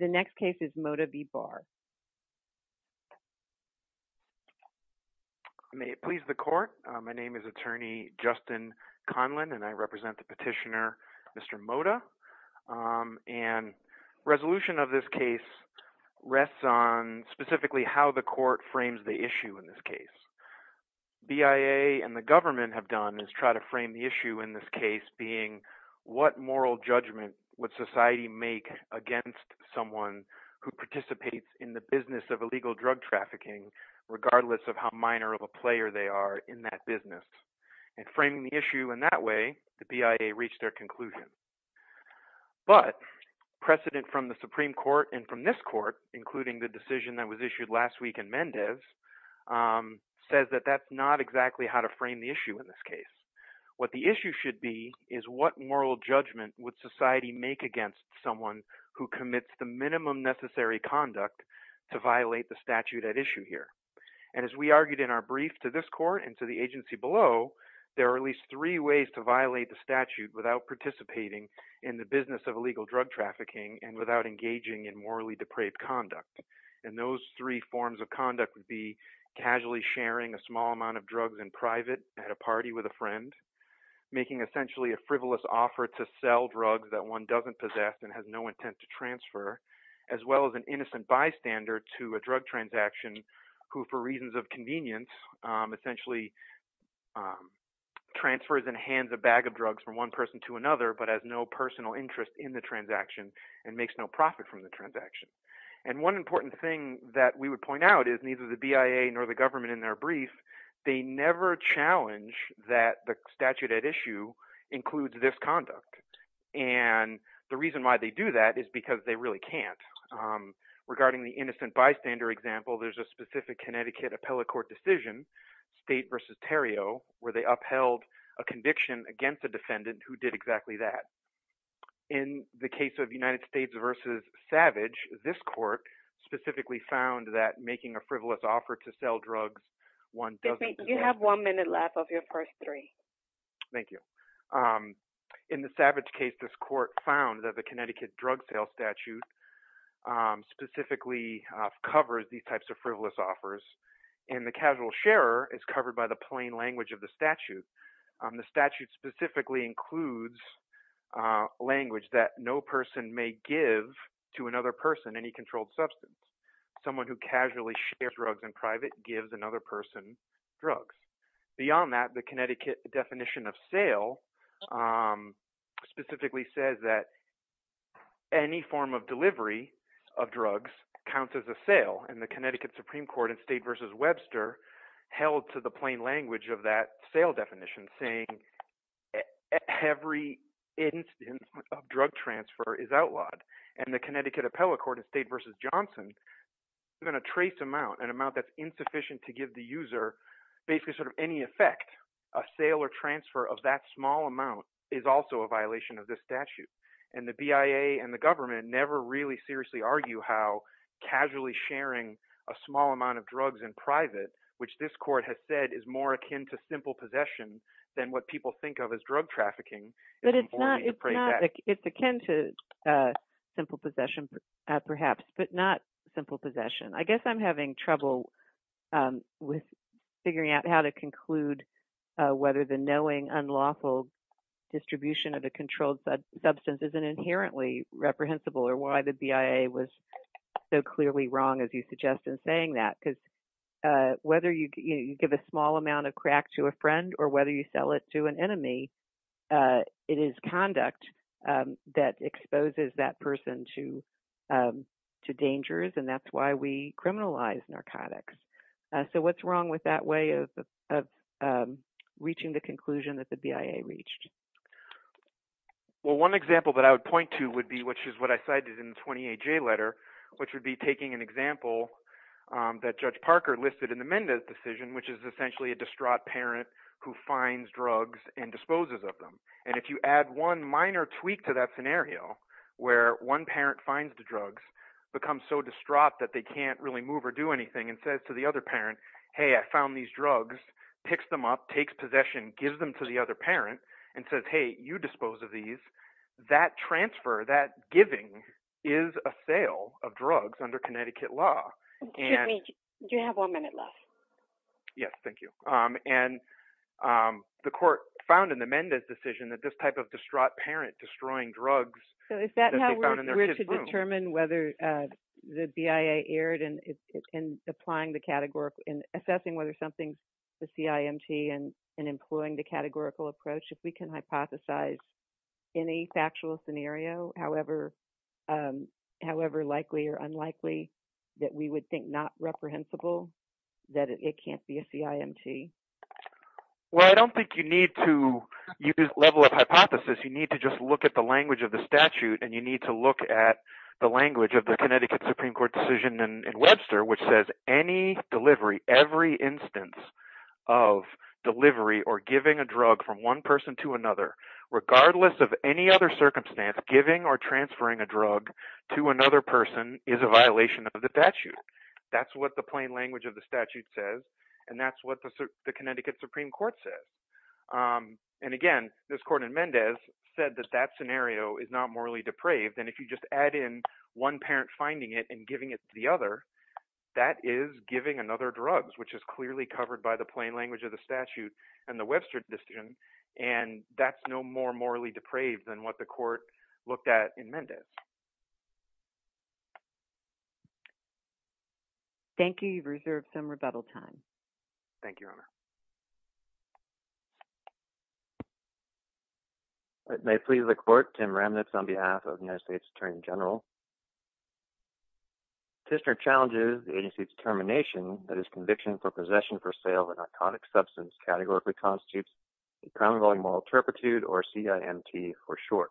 The next case is Mota v. Barr. May it please the court. My name is attorney Justin Conlon and I represent the petitioner Mr. Mota. And resolution of this case rests on specifically how the court frames the issue in this case. BIA and the government have done is try to frame the issue in this case being what moral judgment would society make against someone who participates in the business of illegal drug trafficking regardless of how minor of a player they are in that business. And framing the issue in that way the BIA reached their conclusion. But precedent from the Supreme Court and from this court including the decision that was issued last week in Mendez says that that's not exactly how to frame the issue in this case. What the issue should be is what moral judgment would society make against someone who commits the minimum necessary conduct to violate the statute at issue here. And as we argued in our brief to this court and to the agency below there are at least three ways to violate the statute without participating in the business of illegal drug trafficking and without engaging in morally depraved conduct. And those three forms of conduct would be casually sharing a small amount of drugs in hand making essentially a frivolous offer to sell drugs that one doesn't possess and has no intent to transfer as well as an innocent bystander to a drug transaction who for reasons of convenience essentially transfers and hands a bag of drugs from one person to another but has no personal interest in the transaction and makes no profit from the transaction. And one important thing that we would point out is neither the BIA nor the government in their brief they never challenge that the statute at issue includes this conduct. And the reason why they do that is because they really can't. Regarding the innocent bystander example there's a specific Connecticut appellate court decision state versus Terrio where they upheld a conviction against a defendant who did exactly that. In the case of United States versus Savage this court specifically found that making a frivolous offer to sell drugs one doesn't possess. You have one minute left of your first three. Thank you. In the Savage case this court found that the Connecticut drug sale statute specifically covers these types of frivolous offers and the casual sharer is covered by the plain language of the statute. The statute specifically includes language that no person may give to another person in any controlled substance. Someone who casually shares drugs in private gives another person drugs. Beyond that the Connecticut definition of sale specifically says that any form of delivery of drugs counts as a sale and the Connecticut Supreme Court in state versus Webster held to the plain language of that sale definition saying every instance of drug transfer is outlawed and the Connecticut appellate court in state versus Johnson even a trace amount an amount that's insufficient to give the user basically sort of any effect a sale or transfer of that small amount is also a violation of this statute and the BIA and the government never really seriously argue how casually sharing a small amount of drugs in private which this court has said is more akin to simple possession than what people think of as drug trafficking. But it's not it's akin to simple possession perhaps but not simple possession. I guess I'm having trouble with figuring out how to conclude whether the knowing unlawful distribution of a controlled substance is an inherently reprehensible or why the BIA was so clearly wrong as you suggest in saying that because whether you give a small amount of crack to a friend or whether you sell it to an enemy it is conduct that exposes that person to dangers and that's why we criminalize narcotics. So what's wrong with that way of reaching the conclusion that the BIA reached? Well one example that I would point to would be which is what I cited in the 28J letter which would be taking an example that Judge Parker listed in the Mendez decision which is essentially a distraught parent who finds drugs and disposes of them and if you add one minor tweak to that scenario where one parent finds the drugs becomes so distraught that they can't really move or do anything and says to the other parent hey I found these drugs picks them up takes possession gives them to the other parent and says hey you dispose of these that transfer that giving is a sale of drugs under Connecticut law. Do you have one minute left? Yes thank you and the court found in the Mendez decision that this type of distraught parent destroying drugs. So is that how we're to determine whether the BIA erred in applying the categorical in assessing whether something's the CIMT and employing the categorical approach if we can hypothesize any factual scenario however likely or unlikely that we would think not reprehensible that it can't be a CIMT? Well I don't think you need to use level of hypothesis you need to just look at the language of the statute and you need to look at the language of the Connecticut Supreme Court decision in Webster which says any delivery every instance of delivery or giving a drug from one person to another regardless of any other circumstance giving or transferring a drug to another person is a violation of the statute that's what the plain language of the statute says and that's what the Connecticut Supreme Court says and again this court in Mendez said that that scenario is not morally depraved and if you just add in one parent finding it and giving it to the other that is giving another drugs which is clearly covered by the plain language of the statute and the Webster decision and that's no more morally depraved than what the court looked at in Mendez. Thank you you've reserved some rebuttal time. Thank you Your Honor. It may please the court, Tim Remnitz on behalf of the United States Attorney General. Tisner challenges the agency's determination that his conviction for possession for sale of a narcotic substance categorically constitutes a crime involving moral turpitude or CIMT for short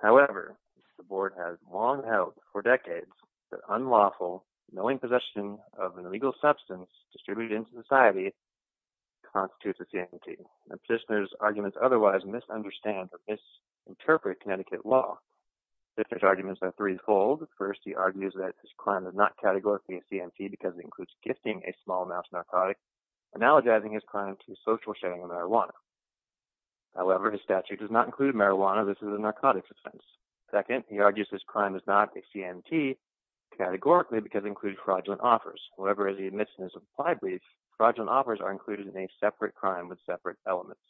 however the board has long held for decades that unlawful knowing possession of an illegal substance distributed into society constitutes a CIMT and Tisner's arguments otherwise misunderstand or misinterpret Connecticut law. Tisner's arguments are threefold. First he argues that his crime is not categorically a CIMT because it includes gifting a small amount of narcotic analogizing his crime to social sharing of marijuana. However his statute does not include marijuana this is a narcotics offense. Second he argues this crime is not a CIMT categorically because it includes fraudulent offers. However as he admits in his applied brief fraudulent offers are included in a separate crime with separate elements.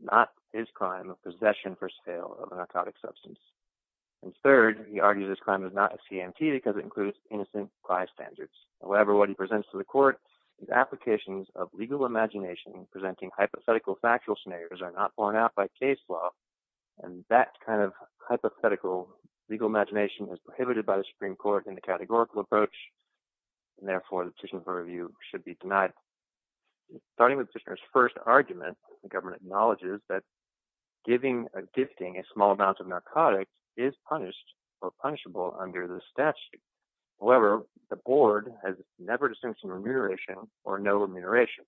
Not his crime of possession for sale of a narcotic substance. And third he argues this crime is not a CIMT because it includes innocent by standards. However what he presents to the court is applications of legal imagination presenting hypothetical factual scenarios are not borne out by case law and that kind of hypothetical legal imagination is prohibited by the Supreme Court in the categorical approach and therefore the petition for review should be denied. Starting with Tisner's first argument the government acknowledges that giving a gifting a small amount of narcotics is punished or punishable under the statute. However the board has never distinguished remuneration or no remuneration.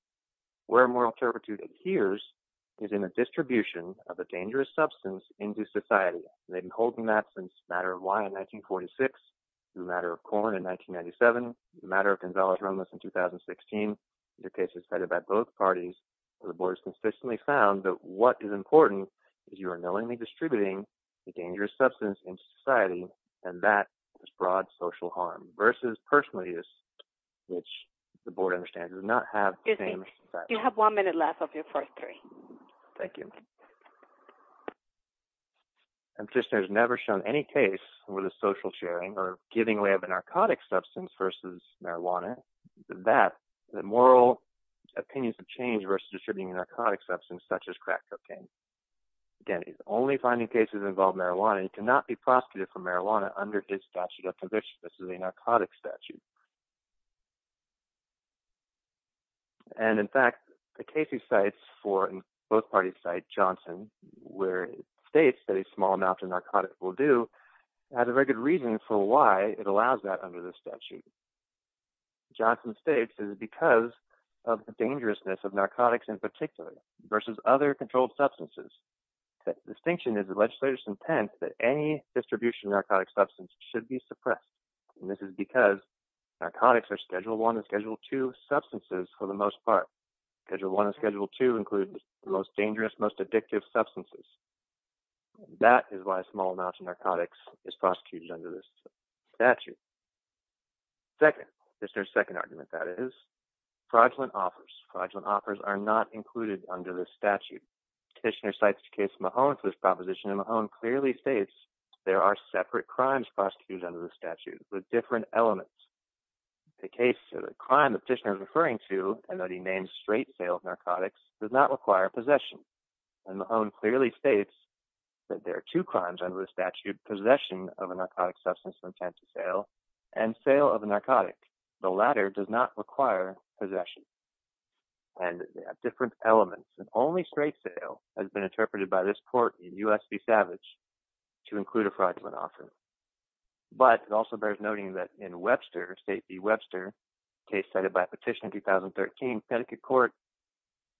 Where moral turpitude adheres is in a distribution of a dangerous substance into society. They've been holding that since Matter of Wine in 1946, through Matter of Corn in 1997, Matter of Gonzales Rumlas in 2016, the case is vetted by both parties, the board has consistently found that what is important is you are knowingly distributing a dangerous substance into society and that is broad social harm versus personal use which the board understands does not have the same effect. You have one minute left of your first three. Thank you. And Tisner has never shown any case where the social sharing or giving away of a narcotic substance versus marijuana, that moral opinions have changed versus distributing a narcotic substance such as crack cocaine. Again, he's only finding cases involving marijuana, he cannot be prosecuted for marijuana under his statute of conviction, this is a narcotic statute. And in fact the case he cites for, both parties cite Johnson, where it states that a small amount of narcotics will do, has a very good reason for why it allows that under the statute. Johnson states it is because of the dangerousness of narcotics in particular versus other controlled substances. The distinction is the legislator's intent that any distribution of narcotic substance should be suppressed. And this is because narcotics are Schedule I and Schedule II substances for the most part. Schedule I and Schedule II include the most dangerous, most addictive substances. That is why a small amount of narcotics is prosecuted under this statute. Second, Tisner's second argument that is, fraudulent offers, fraudulent offers are not included under this statute. Tisner cites the case of Mahone for this proposition and Mahone clearly states there are separate crimes prosecuted under the statute with different elements. The case of the crime that Tisner is referring to and that he names straight sale of narcotics does not require possession. And Mahone clearly states that there are two crimes under the statute, possession of a narcotic substance with intent to sale and sale of a narcotic. The latter does not require possession. And they have different elements and only straight sale has been interpreted by this court in U.S. v. Savage to include a fraudulent offer. But it also bears noting that in Webster, State v. Webster, a case cited by a petition in 2013, Connecticut court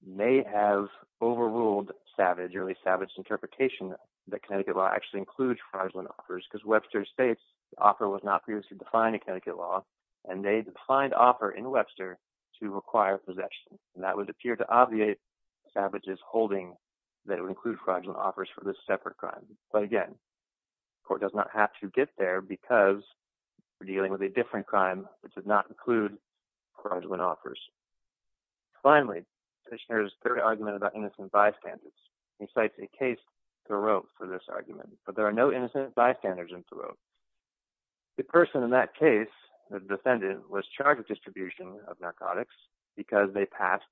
may have overruled Savage, or at least Savage's interpretation that Connecticut law actually includes fraudulent offers because Webster states the offer was not previously defined in Connecticut law and they defined offer in Webster to require possession. And that would appear to obviate Savage's holding that it would include fraudulent offers for this separate crime. But again, the court does not have to get there because we're dealing with a different crime that did not include fraudulent offers. Finally, the third argument about innocent bystanders, he cites a case Thoreau for this argument. But there are no innocent bystanders in Thoreau. The person in that case, the defendant, was charged with distribution of narcotics because they passed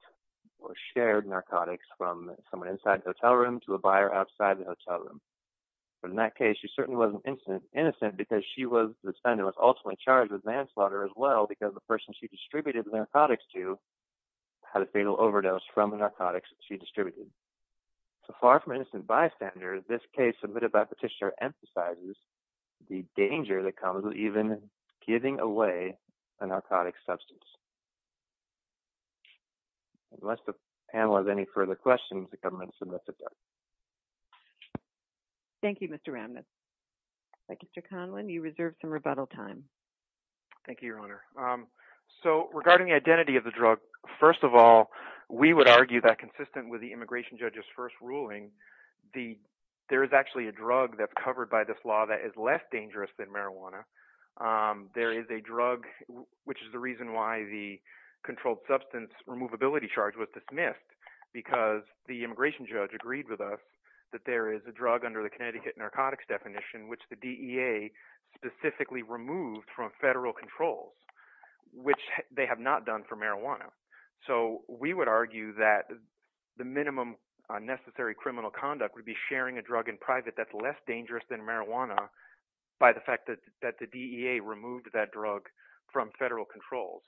or shared narcotics from someone inside the hotel room to a buyer outside the hotel room. But in that case, she certainly wasn't innocent because she was, the defendant was ultimately charged with manslaughter as well because the person she distributed the narcotics to had a fatal overdose from the narcotics that she distributed. So far from innocent bystanders, this case submitted by Petitioner emphasizes the danger that comes with even giving away a narcotic substance. Unless the panel has any further questions, the government submits it up. Thank you, Mr. Ramnitz. Mr. Conlon, you reserve some rebuttal time. Thank you, Your Honor. So regarding the identity of the drug, first of all, we would argue that consistent with the immigration judge's first ruling, there is actually a drug that's covered by this law that is less dangerous than marijuana. There is a drug, which is the reason why the controlled substance removability charge was dismissed because the immigration judge agreed with us that there is a drug under the Connecticut narcotics definition, which the DEA specifically removed from federal controls, which they have not done for marijuana. So we would argue that the minimum necessary criminal conduct would be sharing a drug in private that's less dangerous than marijuana by the fact that the DEA removed that drug from federal controls.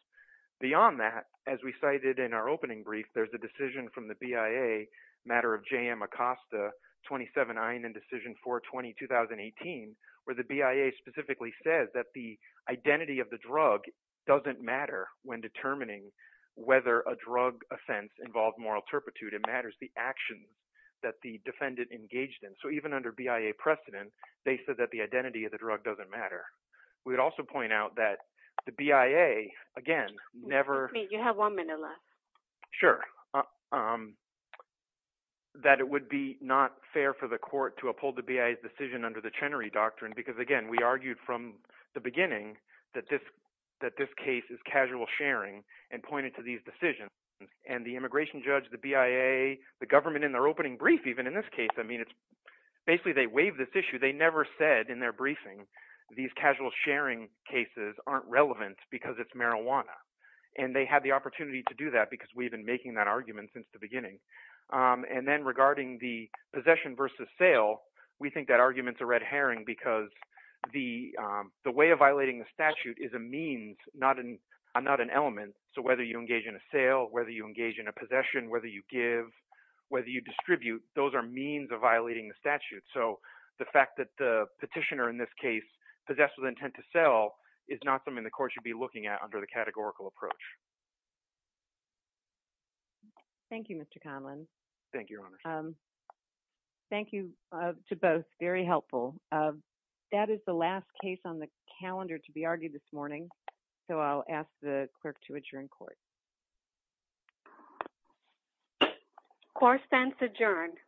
Beyond that, as we cited in our opening brief, there's a decision from the BIA, a matter of J.M. Acosta, 27-9, and Decision 420, 2018, where the BIA specifically says that the identity of the drug doesn't matter when determining whether a drug offense involved moral turpitude. It matters the actions that the defendant engaged in. So even under BIA precedent, they said that the identity of the drug doesn't matter. We would also point out that the BIA, again, never— Excuse me. You have one minute left. Sure. We would argue that it would be not fair for the court to uphold the BIA's decision under the Chenery Doctrine because, again, we argued from the beginning that this case is casual sharing and pointed to these decisions. And the immigration judge, the BIA, the government in their opening brief, even in this case, I mean, it's—basically, they waived this issue. They never said in their briefing these casual sharing cases aren't relevant because it's marijuana. And they had the opportunity to do that because we've been making that argument since the beginning. And then regarding the possession versus sale, we think that argument's a red herring because the way of violating the statute is a means, not an element. So whether you engage in a sale, whether you engage in a possession, whether you give, whether you distribute, those are means of violating the statute. So the fact that the petitioner in this case possessed with intent to sell is not something the court should be looking at under the categorical approach. Thank you, Mr. Conlon. Thank you, Your Honor. Thank you to both. Very helpful. That is the last case on the calendar to be argued this morning, so I'll ask the clerk to adjourn court. Court is adjourned.